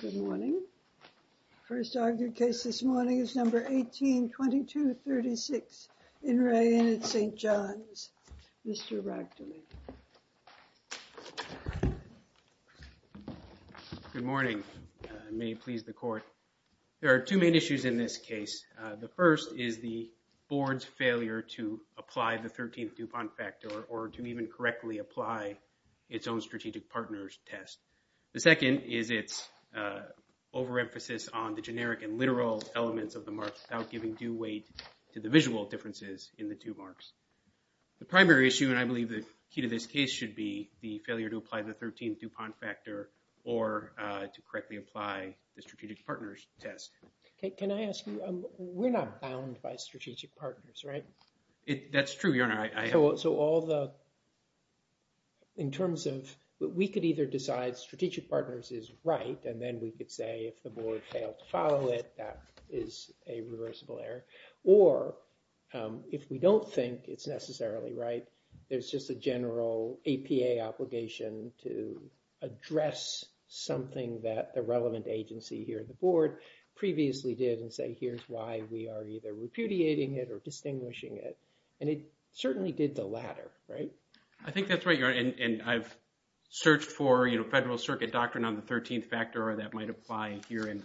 Good morning. First argued case this morning is number 18-22-36 in Re Inn at St. John's. Mr. Ractoli. Good morning. May it please the court. There are two main issues in this case. The first is the board's failure to apply the 13th Dupont Factor or to even correctly apply its own strategic partners test. The second is its overemphasis on the generic and literal elements of the marks without giving due weight to the visual differences in the two marks. The primary issue and I believe the key to this case should be the failure to apply the 13th Dupont Factor or to correctly apply the strategic partners test. Can I ask you, we're not bound by in terms of but we could either decide strategic partners is right and then we could say if the board failed to follow it that is a reversible error or if we don't think it's necessarily right there's just a general APA obligation to address something that the relevant agency here in the board previously did and say here's why we are either repudiating it or distinguishing it and it certainly did the latter right? I think that's right your honor and I've searched for you know federal circuit doctrine on the 13th factor or that might apply here and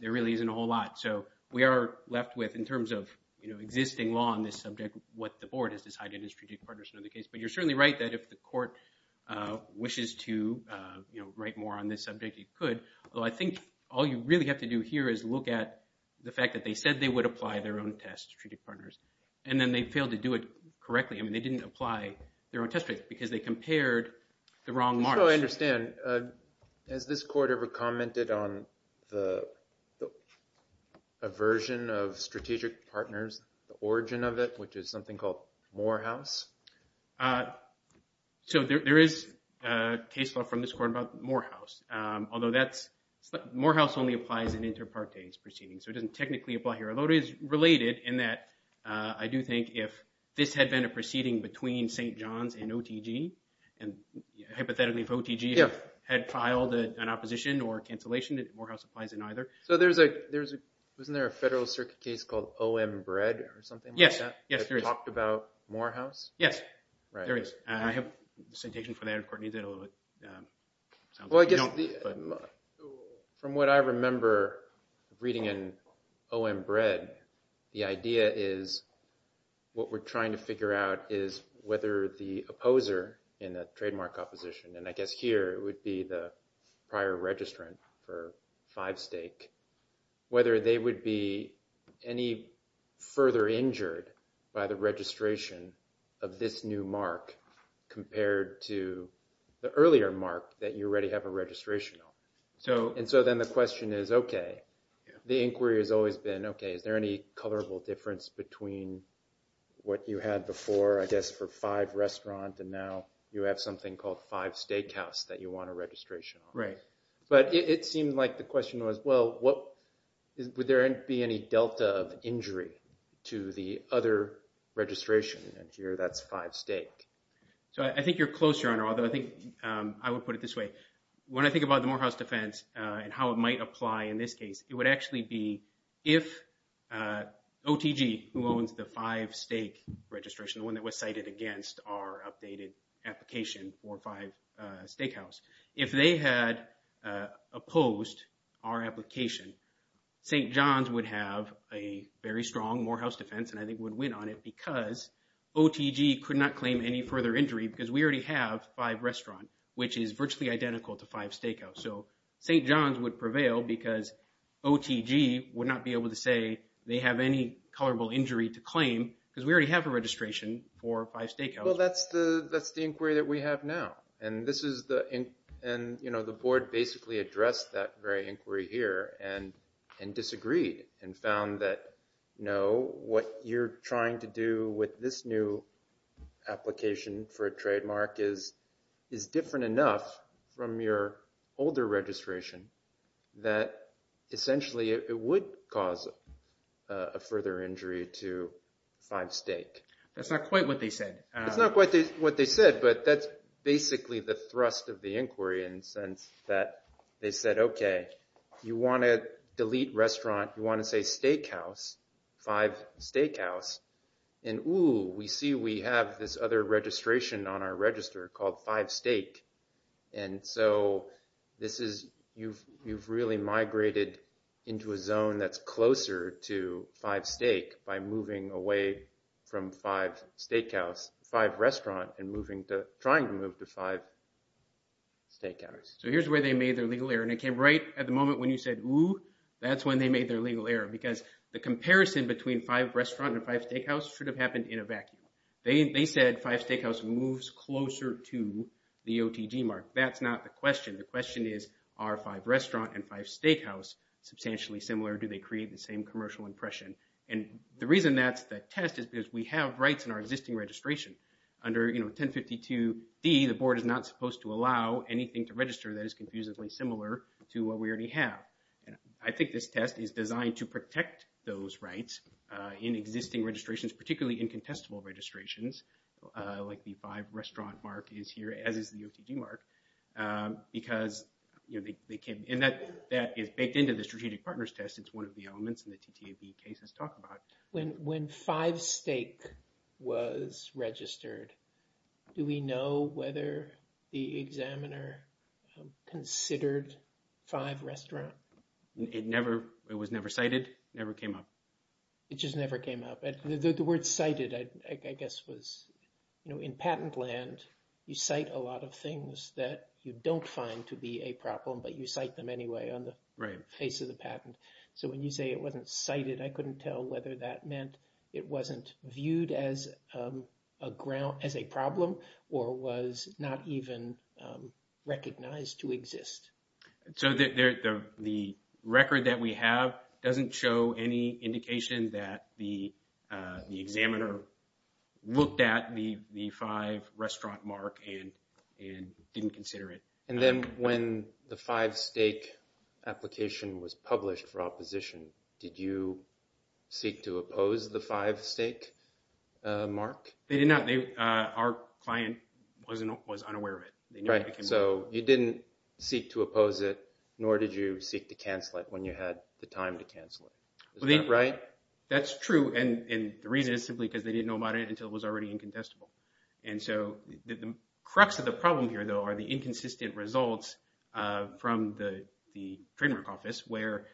there really isn't a whole lot so we are left with in terms of you know existing law on this subject what the board has decided is strategic partners in the case but you're certainly right that if the court wishes to you know write more on this subject you could although I think all you really have to do here is look at the fact that they said they would apply their own test strategic partners and then they failed to do it correctly I mean they didn't apply their own test rates because they compared the wrong models. So I understand has this court ever commented on the aversion of strategic partners the origin of it which is something called Morehouse? So there is a case law from this court about Morehouse although that's Morehouse only applies in inter partes proceedings so it doesn't technically apply here although it is related in that I do think if this had been a proceeding between St. John's and OTG and hypothetically if OTG had filed an opposition or cancellation that Morehouse applies in either. So there's a there's a wasn't there a federal circuit case called OM Bread or something like that? Yes, yes there is. Talked about Morehouse? Yes, there is. I have a citation for that in court. From what I remember reading in OM Bread the idea is what we're trying to figure out is whether the opposer in the trademark opposition and I guess here it would be the prior registrant for five stake whether they would be any further injured by the registration of this new mark compared to the earlier mark that you already have a registration on. So and so then the question is okay the inquiry has always been okay is there any colorable difference between what you had before I guess for five restaurant and now you have something called five steakhouse that you want a registration on? Right. But it seemed like the question was well what would there be any delta of injury to the other registration and here that's five stake? So I think you're close your honor although I think I would put it this way when I think about the Morehouse defense and how it might apply in this case it would actually be if OTG who owns the five stake registration the one that was cited against our updated application for five steakhouse if they had opposed our application St. John's would have a very strong Morehouse defense and I think would win on it because OTG could not claim any further injury because we already have five restaurant which is virtually identical to five steakhouse so St. John's would prevail because OTG would not be able to say they have any colorable injury to claim because we already have a registration for five steakhouse. Well that's the that's the inquiry that we have now and this is the and you know the board basically addressed that very inquiry here and and disagreed and found that you know what you're trying to do with this new application for a trademark is is different enough from your older registration that essentially it would cause a further injury to five stake. That's not quite what they said. That's not quite what they said but that's basically the thrust of the inquiry in the sense that they said okay you want to delete restaurant you want to say steakhouse five steakhouse and ooh we see we have this other registration on our register called five steak and so this is you've you've really migrated into a zone that's closer to five steak by moving away from five steakhouse five restaurant and moving to trying to move to five steakhouse. So here's where they made their legal error and it came right at the moment when you said ooh that's when they made their legal error because the comparison between five restaurant and five steakhouse should have happened in a vacuum. They they said five steakhouse moves closer to the OTG mark that's not the question the question is are five restaurant and five steakhouse substantially similar do they create the same commercial impression and the reason that's the test is we have rights in our existing registration under you know 1052d the board is not supposed to allow anything to register that is confusingly similar to what we already have. I think this test is designed to protect those rights in existing registrations particularly in contestable registrations like the five restaurant mark is here as is the OTG mark because you know they they came in that that is baked into the strategic partners test it's one of the elements in the TTAB when when five steak was registered do we know whether the examiner considered five restaurant it never it was never cited never came up it just never came up the word cited I guess was you know in patent land you cite a lot of things that you don't find to be a problem but you cite them anyway on the right face of the patent so when you say it wasn't cited I couldn't tell whether that meant it wasn't viewed as a ground as a problem or was not even recognized to exist. So the record that we have doesn't show any indication that the examiner looked at the five restaurant mark and and didn't consider it. And then when the five steak application was published for opposition did you seek to oppose the five steak mark? They did not they uh our client wasn't was unaware of it. Right so you didn't seek to oppose it nor did you seek to cancel it when you had the time to cancel it right? That's true and and the reason is simply they didn't know about it until it was already incontestable and so the crux of the problem here though are the inconsistent results uh from the the trademark office where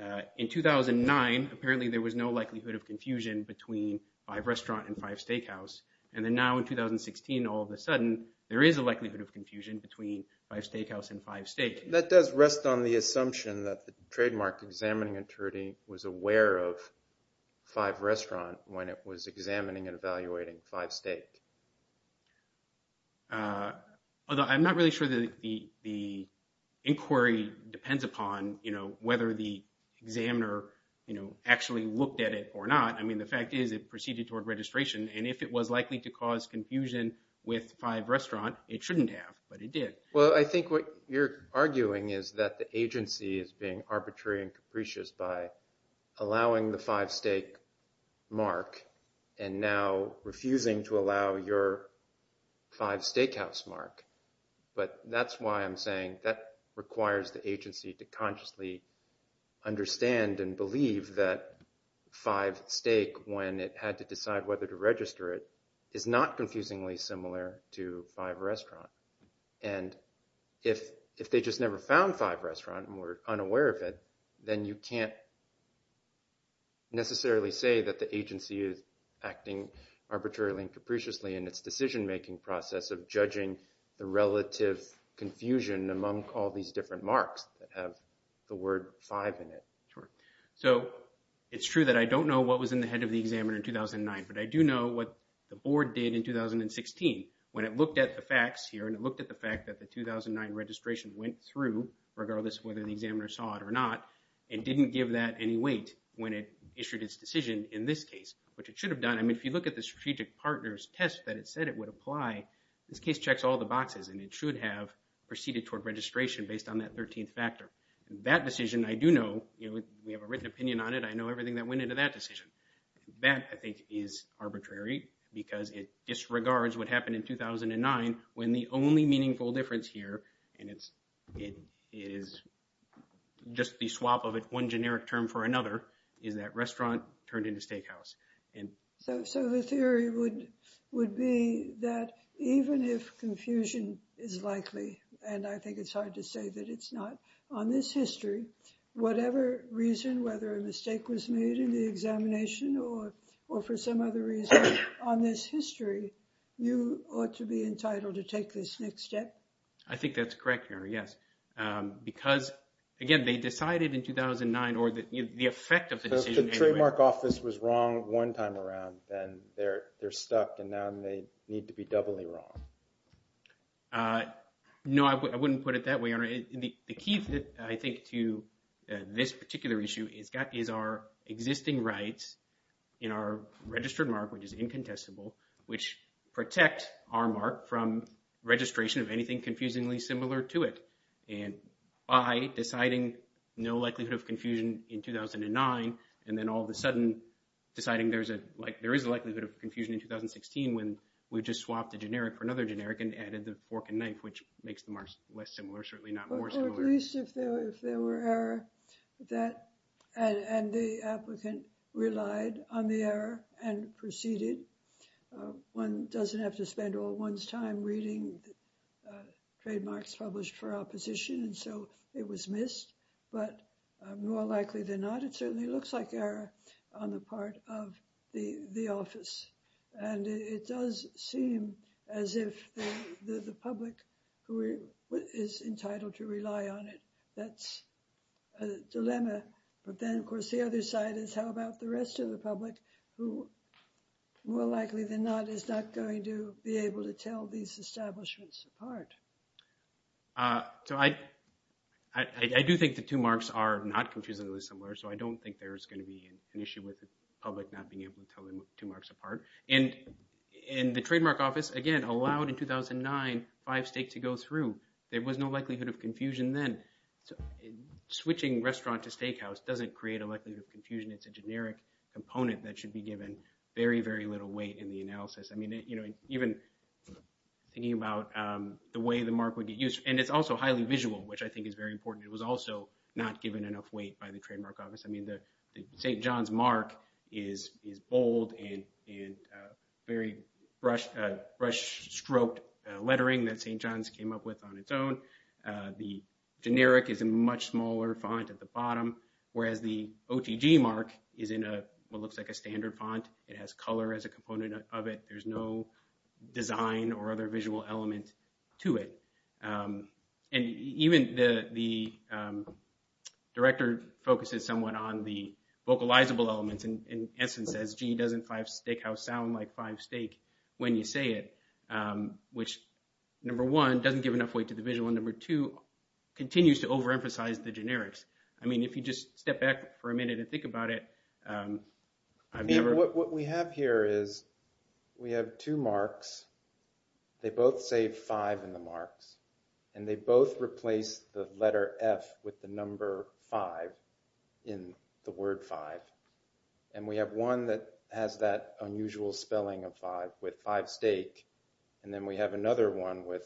uh in 2009 apparently there was no likelihood of confusion between five restaurant and five steakhouse and then now in 2016 all of a sudden there is a likelihood of confusion between five steakhouse and five steak. That does rest on the assumption that the trademark examining attorney was aware of five restaurant when it was examining and evaluating five steak. Uh although I'm not really sure that the the inquiry depends upon you know whether the examiner you know actually looked at it or not. I mean the fact is it proceeded toward registration and if it was likely to cause confusion with five restaurant it shouldn't have but it did. Well I think what you're arguing is that the agency is being arbitrary and capricious by allowing the five steak mark and now refusing to allow your five steakhouse mark but that's why I'm saying that requires the agency to consciously understand and believe that five steak when it had to decide whether to register it is not confusingly similar to five restaurant and if if they just never found five restaurant and were unaware of it then you can't necessarily say that the agency is acting arbitrarily and capriciously in its decision making process of judging the relative confusion among all these different marks that have the word five in it. Sure so it's true that I don't know what was in the head of the examiner in 2009 but I do know what the board did in 2016 when it looked at the facts here and it looked at the fact that the 2009 registration went through regardless whether the examiner saw it or not and didn't give that any weight when it issued its decision in this case which it should have done I mean if you look at the strategic partners test that it said it would apply this case checks all the boxes and it should have proceeded toward registration based on that 13th factor. That decision I do know you know we have a written opinion on it I know everything that went into that decision that I think is arbitrary because it disregards what happened in 2009 when the only meaningful difference here and it's it is just the swap of it one generic term for another is that restaurant turned into steakhouse. So the theory would would be that even if confusion is likely and I think it's hard to say that it's not on this history whatever reason whether a mistake was made in the examination or for some other reason on this history you ought to be entitled to take this next step. I think that's correct your honor yes because again they decided in 2009 or that the effect of the decision trademark office was wrong one time around and they're they're stuck and now they need to be doubly wrong. No I wouldn't put it that way on the key that I think to this particular issue is got is our existing rights in our registered mark which is incontestable which protect our mark from registration of anything confusingly similar to it and by deciding no likelihood of confusion in 2009 and then all of a sudden deciding there's a like there is a likelihood of confusion in 2016 when we just swapped the generic for another generic and added the fork and knife which makes the marks less similar certainly not more similar at least if there if there were error that and and the applicant relied on the error and proceeded one doesn't have to spend all one's time reading trademarks published for opposition and so it was missed but more likely than not it certainly looks like error on the part of the the office and it does seem as if the the public who is entitled to rely on it that's a dilemma but then of course the other side is how about the rest of the public who more likely than not is not going to be able to tell these establishments apart uh so I I I do think the two marks are not confusingly similar so I don't think there's going to be an issue with the public not being able to tell them two marks apart and and the trademark office again allowed in 2009 five states to go through there was no likelihood of confusion then so switching restaurant to steakhouse doesn't create a likelihood of confusion it's a generic component that should be given very very little weight in the analysis I mean you know even thinking about um the way the mark would be used and it's also highly visual which I think is very important it was also not given enough weight by the trademark office I mean the St. John's mark is is bold and and very brush uh brush stroked lettering that St. John's came up with on its own uh the generic is a much smaller font at the bottom whereas the OTG mark is in a what looks like a standard font it has color as a component of it there's no design or the vocalizable elements in in essence as g doesn't five steakhouse sound like five steak when you say it um which number one doesn't give enough weight to the visual number two continues to overemphasize the generics I mean if you just step back for a minute and think about it um I've never what we have here is we have two marks they both say five in the marks and they both replace the letter f with the number five in the word five and we have one that has that unusual spelling of five with five steak and then we have another one with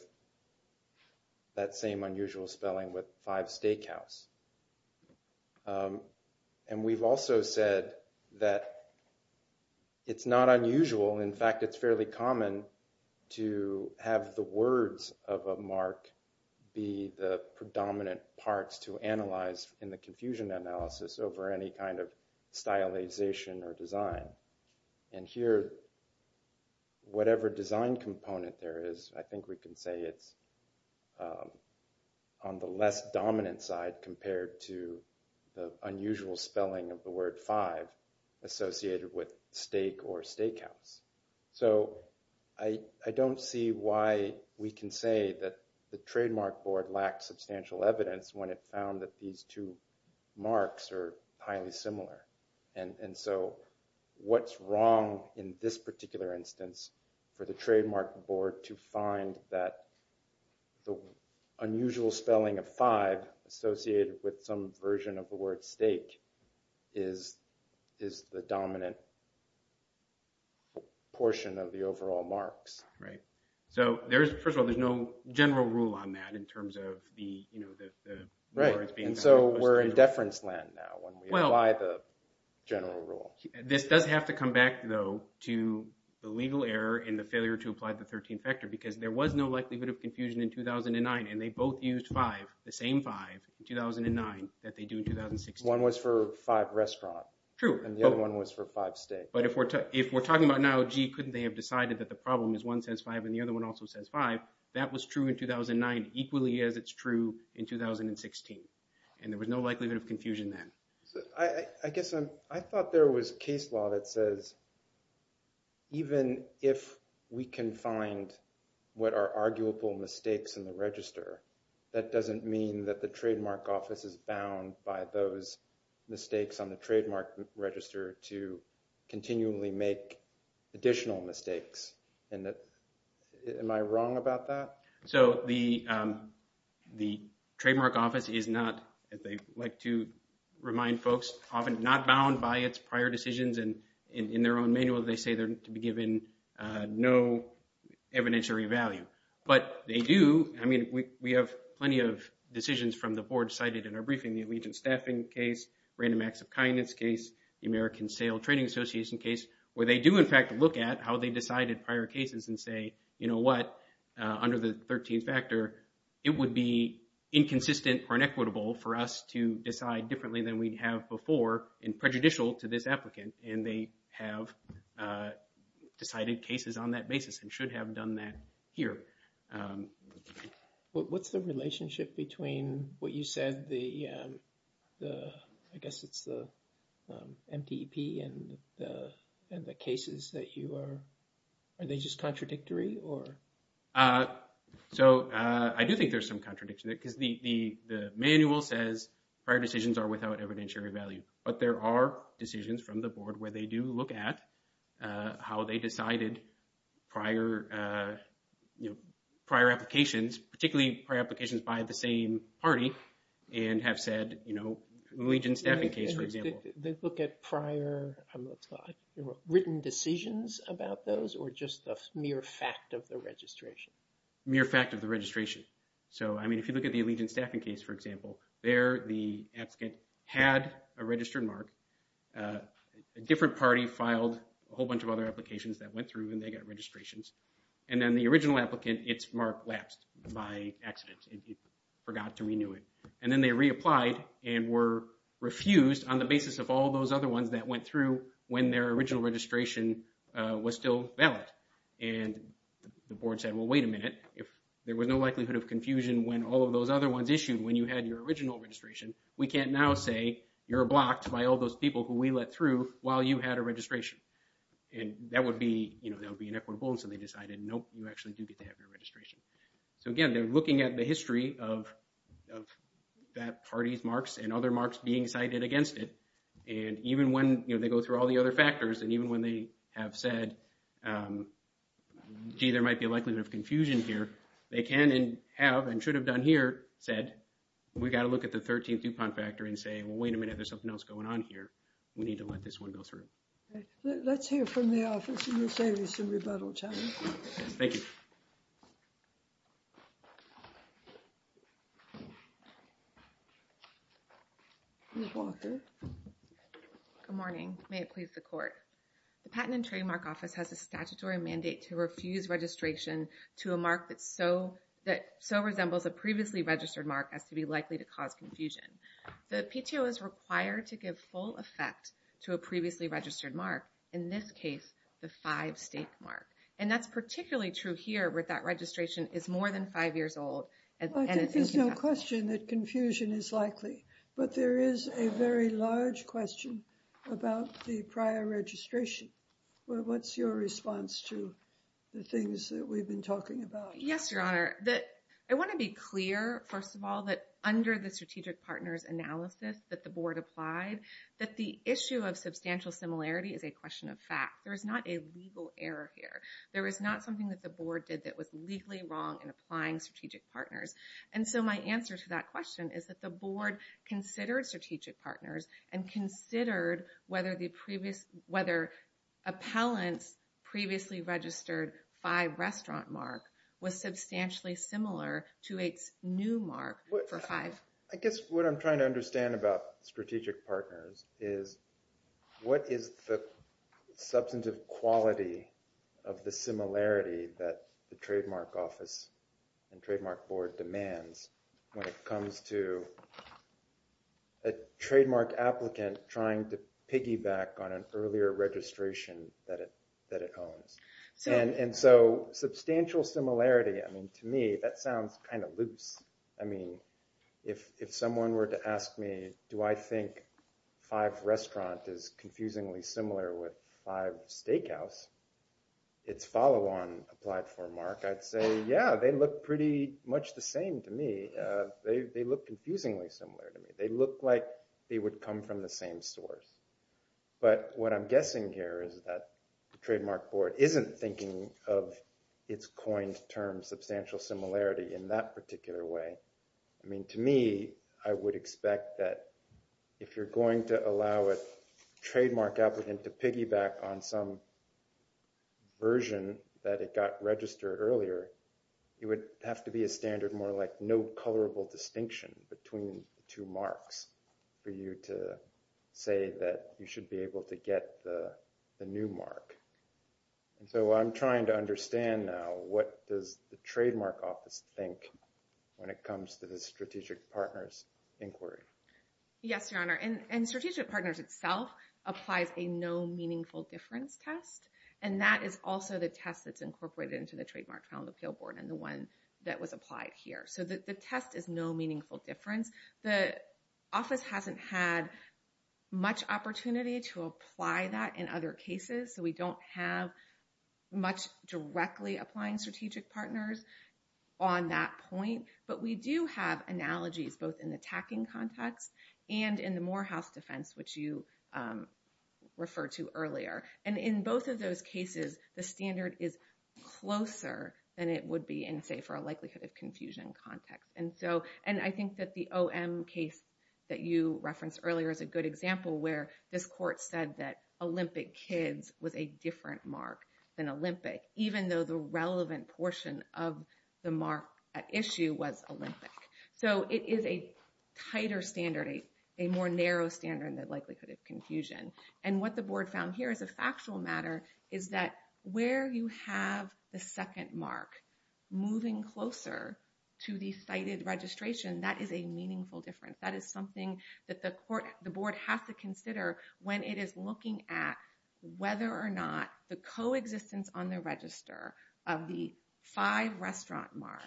that same unusual spelling with five steakhouse um and we've also said that it's not unusual in fact it's fairly common to have the words of a mark be the predominant parts to analyze in the confusion analysis over any kind of stylization or design and here whatever design component there is I think we can say it's on the less dominant side compared to the unusual spelling of the word five associated with steak or steakhouse so I I don't see why we can say that the trademark board lacks substantial evidence when it found that these two marks are highly similar and and so what's wrong in this particular instance for the trademark board to find that the unusual spelling of five associated with some version of the word steak is is the dominant portion of the overall marks right so there's first of all there's no general rule on that in terms of the you know the right and so we're in failure to apply the 13th factor because there was no likelihood of confusion in 2009 and they both used five the same five in 2009 that they do in 2016. One was for five restaurant. True. And the other one was for five steak. But if we're if we're talking about now gee couldn't they have decided that the problem is one says five and the other one also says five that was true in 2009 equally as it's true in 2016 and there was no likelihood of confusion then. I I guess I'm I thought there was case law that says even if we can find what are arguable mistakes in the register that doesn't mean that the trademark office is bound by those mistakes on the trademark register to continually make additional mistakes and that am I wrong about that? So the the trademark office is not as they like to remind folks often not bound by its prior decisions and in their own manual they say they're to be given no evidentiary value but they do I mean we we have plenty of decisions from the board cited in our briefing the allegiance staffing case random acts of kindness case the American sale trading association case where they do in fact look at how they decided prior cases and say you know what under the 13th factor it would be inconsistent or inequitable for us to decide differently than we'd have before and prejudicial to this applicant and they have decided cases on that basis and should have done that here. What's the relationship between what you said the the I guess it's the MTP and the and the cases that you are are they just contradictory or? So I do think there's some contradiction because the the the manual says prior decisions are without evidentiary value but there are decisions from the board where they do look at how they decided prior you know prior applications particularly prior applications by the same party and have said you know allegiance staffing case for example. They look at prior written decisions about those or just the mere fact of the registration? Mere fact of the registration so I mean if you look at the allegiance staffing case for example there the applicant had a registered mark a different party filed a whole bunch of other applications that went through and they got registrations and then the original applicant its mark lapsed by accident it forgot to renew it and then they reapplied and were refused on the basis of all those other ones that went through when their original registration was still valid and the board said well wait a minute if there was no likelihood of confusion when all of those other ones issued when you had your original registration we can't now say you're blocked by all those people who we let through while you had a registration and that would be you know that would and so they decided nope you actually do get to have your registration. So again they're looking at the history of that party's marks and other marks being cited against it and even when you know they go through all the other factors and even when they have said gee there might be a likelihood of confusion here they can and have and should have done here said we've got to look at the 13th DuPont factor and say well wait a minute there's something else going on here we need to let this one go through. Let's hear from the office in the savings and rebuttal challenge. Thank you. Ms. Walker. Good morning may it please the court. The patent and trademark office has a statutory mandate to refuse registration to a mark that so that so resembles a previously registered mark as to be likely to cause confusion. The PTO is required to give full effect to a previously registered mark in this case the five state mark and that's particularly true here where that registration is more than five years old. I think there's no question that confusion is likely but there is a very large question about the prior registration. What's your response to the things that we've been talking about? Yes your honor that I want to be clear first of all that under the strategic partners analysis that the board applied that the issue of substantial similarity is a question of fact. There is not a legal error here. There is not something that the board did that was legally wrong in applying strategic partners and so my answer to that question is that the board considered strategic partners and considered whether the previous whether appellants previously registered by restaurant mark was substantially similar to its new mark for five. I guess what I'm trying to understand about strategic partners is what is the substantive quality of the similarity that the trademark office and trademark board demands when it comes to a trademark applicant trying to piggyback on an earlier registration that it that it owns and so substantial similarity I mean to me that sounds kind of loose. I mean if someone were to ask me do I think five restaurant is confusingly similar with five they look confusingly similar to me. They look like they would come from the same source but what I'm guessing here is that the trademark board isn't thinking of its coined term substantial similarity in that particular way. I mean to me I would expect that if you're going to allow a trademark applicant to piggyback on some version that it got registered earlier it would have to be a standard more like no colorable distinction between the two marks for you to say that you should be able to get the new mark and so I'm trying to understand now what does the trademark office think when it comes to the strategic partners inquiry. Yes your honor and strategic partners itself applies a no meaningful difference test and that is also the test that's incorporated into the trademark found appeal board and the one that was applied here so the test is no meaningful difference. The office hasn't had much opportunity to apply that in other cases so we don't have much directly applying strategic partners on that point but we do have analogies both in the tacking context and in the Morehouse defense which you refer to earlier and in both of those cases the standard is closer than it would be in say for a likelihood of confusion context and so and I think that the om case that you referenced earlier is a good example where this court said that olympic kids was a different mark than olympic even though the relevant portion of the mark at issue was olympic so it is a tighter standard a more narrow standard likelihood of confusion and what the board found here is a factual matter is that where you have the second mark moving closer to the cited registration that is a meaningful difference that is something that the court the board has to consider when it is looking at whether or not the coexistence on the register of the five restaurant mark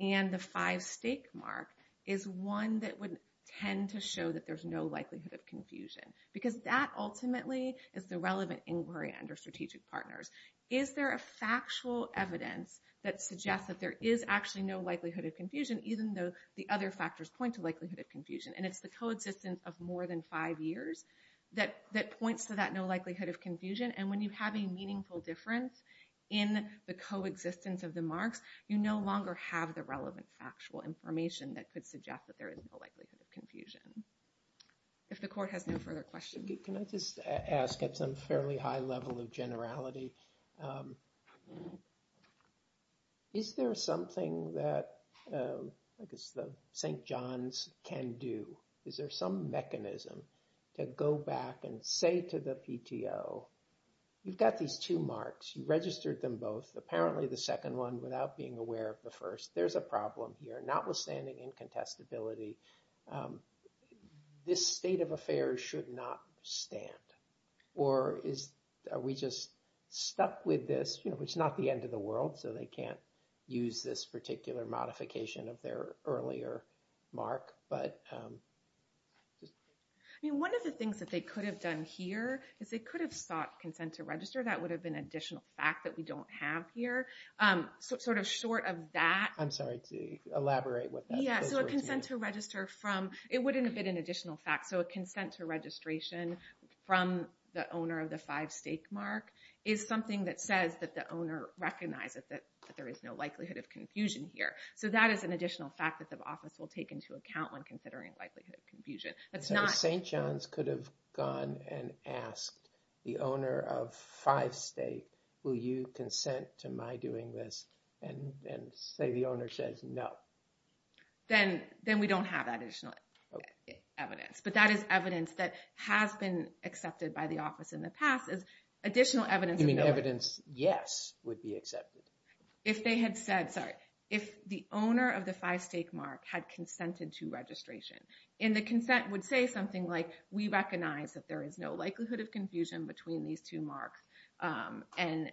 and the five steak mark is one that would tend to show that there's no likelihood of confusion because that ultimately is the relevant inquiry under strategic partners is there a factual evidence that suggests that there is actually no likelihood of confusion even though the other factors point to likelihood of confusion and it's the coexistence of more than five years that that points to that no likelihood of confusion and when you have a meaningful difference in the coexistence of the marks you no longer have the likelihood of confusion if the court has no further questions can i just ask at some fairly high level of generality um is there something that i guess the saint john's can do is there some mechanism to go back and say to the pto you've got these two marks you registered them both apparently the second one without being aware of the first there's a problem here notwithstanding incontestability um this state of affairs should not stand or is are we just stuck with this you know it's not the end of the world so they can't use this particular modification of their earlier mark but um i mean one of the things that they could have done here is they could have sought consent to register that would have been additional fact that we don't have here um sort of short of that i'm sorry to elaborate what that yeah so a consent to register from it wouldn't have been an additional fact so a consent to registration from the owner of the five-state mark is something that says that the owner recognizes that there is no likelihood of confusion here so that is an additional fact that the office will take into account when considering likelihood of confusion that's not saint john's could have gone and asked the owner of five-state will you consent to my doing this and and say the owner says no then then we don't have that additional evidence but that is evidence that has been accepted by the office in the past is additional evidence you mean evidence yes would be accepted if they had said sorry if the owner of the five-state mark had consented to registration and the consent would say something like we um and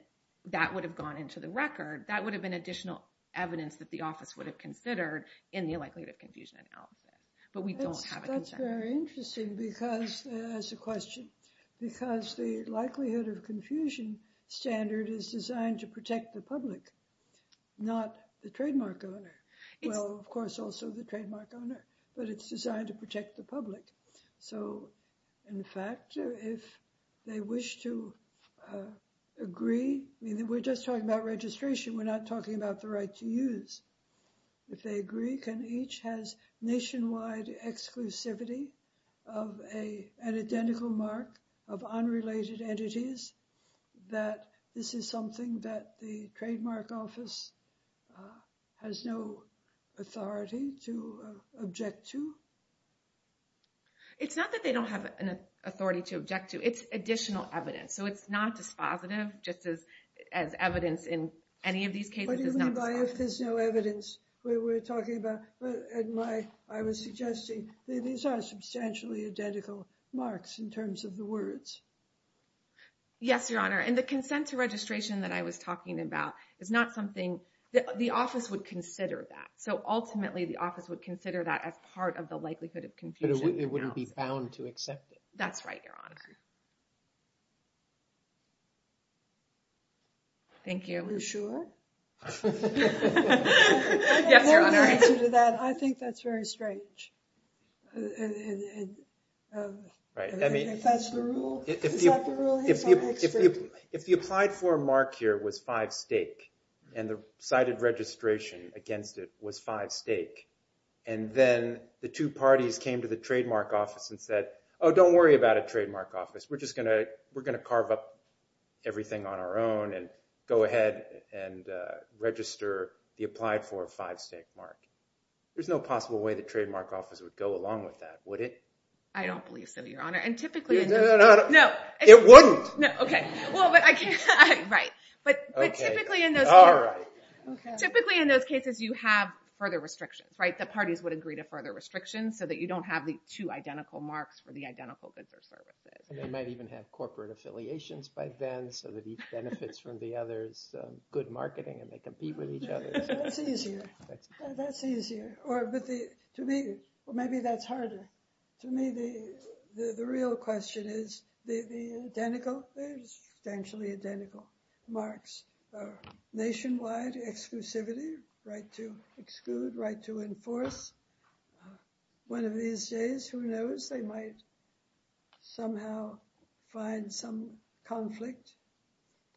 that would have gone into the record that would have been additional evidence that the office would have considered in the likelihood of confusion analysis but we don't have that's very interesting because as a question because the likelihood of confusion standard is designed to protect the public not the trademark owner well of course also the trademark owner but it's designed to protect the public so in fact if they wish to agree we're just talking about registration we're not talking about the right to use if they agree can each has nationwide exclusivity of a an identical mark of unrelated entities that this is something that the it's not that they don't have an authority to object to it's additional evidence so it's not dispositive just as as evidence in any of these cases what do you mean by if there's no evidence we were talking about but at my i was suggesting these are substantially identical marks in terms of the words yes your honor and the consent to registration that i was talking about is not something that the office would consider that so ultimately the office would consider that as part of the likelihood of confusion it wouldn't be found to accept it that's right your honor thank you you're sure yes your honor answer to that i think that's very strange right i mean if that's the rule if you if you applied for a mark here was five stake and the cited registration against it was five stake and then the two parties came to the trademark office and said oh don't worry about a trademark office we're just gonna we're gonna carve up everything on our own and go ahead and register the applied for a five stake mark there's no possible way the trademark office would go along with that would it i don't believe so your honor and typically no it wouldn't no okay well but i can't right but but typically in those typically in those cases you have further restrictions right the parties would agree to further restrictions so that you don't have the two identical marks for the identical goods or services they might even have corporate affiliations by then so that he benefits from the others good marketing and they compete with each other that's easier that's easier or but the to me well maybe that's harder to me the the real question is the the identical substantially identical marks nationwide exclusivity right to exclude right to enforce one of these days who knows they might somehow find some conflict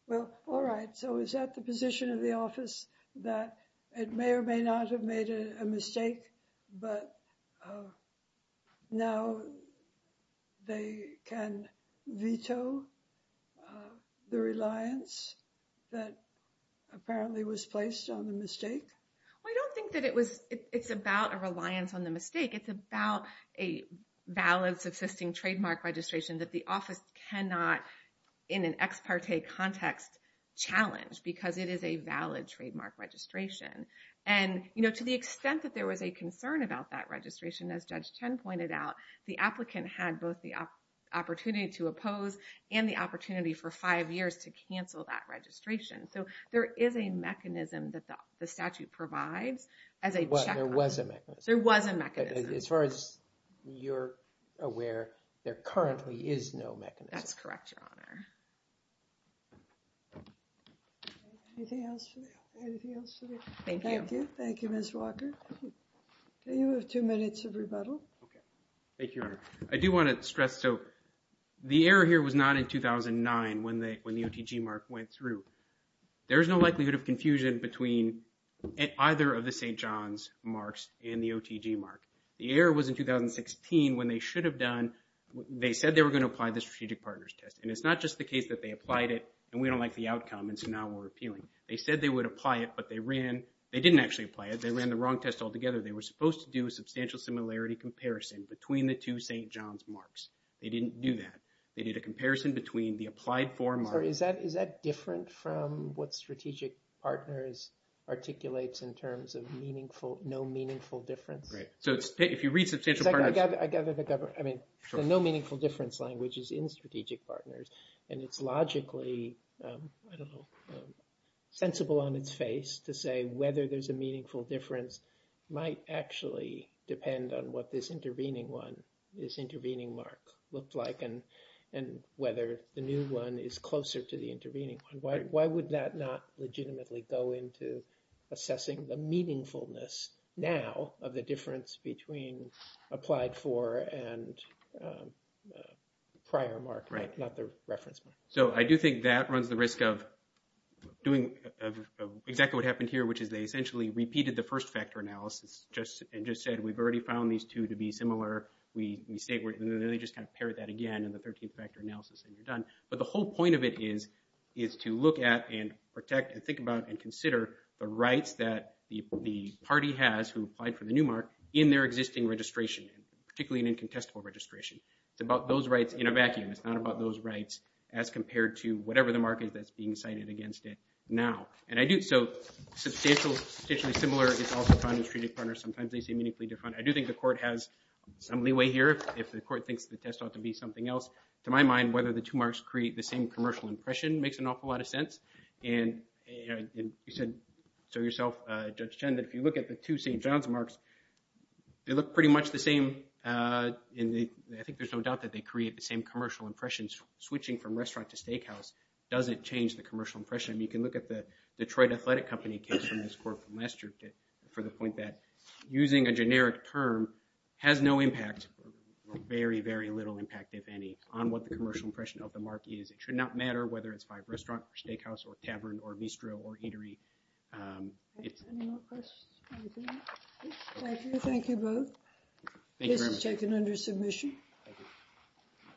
well all right so is that the position of the office that it may or may not have made a mistake but now they can veto the reliance that apparently was placed on the mistake well i don't think that it was it's about a reliance on the mistake it's about a valid subsisting trademark registration that the office cannot in an ex parte context challenge because it is a valid trademark registration and you know to the extent that there was a concern about that registration as judge 10 pointed out the applicant had both the opportunity to oppose and the opportunity for five years to cancel that registration so there is a mechanism that the statute provides as a there was a mechanism there was a mechanism as far as you're aware there currently is no mechanism that's correct your honor anything else for anything else today thank you thank you miss walker so you have two minutes of rebuttal okay thank you i do want to stress so the error here was not in 2009 when they when the otg mark went through there is no likelihood of confusion between either of the saint john's marks and the otg mark the error was in 2016 when they should have done they said they were going to apply the strategic partners test and it's not just the case that they applied it and we don't like the outcome and so now we're appealing they said they would apply it but they ran they didn't actually apply it they ran the wrong test altogether they were supposed to do a substantial similarity comparison between the two saint john's marks they didn't do that they did a comparison between the applied form or is that is that different from what strategic partners articulates in terms of meaningful no meaningful difference right so it's if you read substantial i gather the government i mean the no meaningful difference language is in strategic partners and it's logically i don't know sensible on its face to say whether there's a meaningful difference might actually depend on what this intervening one this intervening mark looked like and and whether the new one is closer to the intervening one why would that not legitimately go into assessing the meaningfulness now of the difference between applied for and um prior mark right not the reference point so i do think that runs the risk of doing exactly what happened here which is they essentially repeated the first factor analysis just and just said we've already found these two to be similar we we say we're just going to pair that again in the 13th factor analysis and you're done but the whole point of it is is to look at and protect and think about and consider the rights that the party has who applied for the new mark in their existing registration particularly in contestable registration it's about those rights in a vacuum it's not about those rights as compared to whatever the market that's being cited against it now and i do so substantial substantially similar it's also found in strategic partners sometimes they say meaningfully different i do think the court has some leeway here if the court thinks the test ought to be something else to my mind whether the two marks create the same commercial impression makes an awful lot of sense and you said so yourself uh jen that if you look at the two st john's marks they look pretty much the same uh in the i think there's no doubt that they create the same commercial impressions switching from restaurant to steakhouse doesn't change the commercial impression you can look at the detroit athletic company case from this court from last year for the point that using a generic term has no impact very very little impact if any on what the commercial impression of the mark is it should matter whether it's by restaurant or steakhouse or tavern or bistro or eatery um it's any more questions thank you thank you both this is taken under submission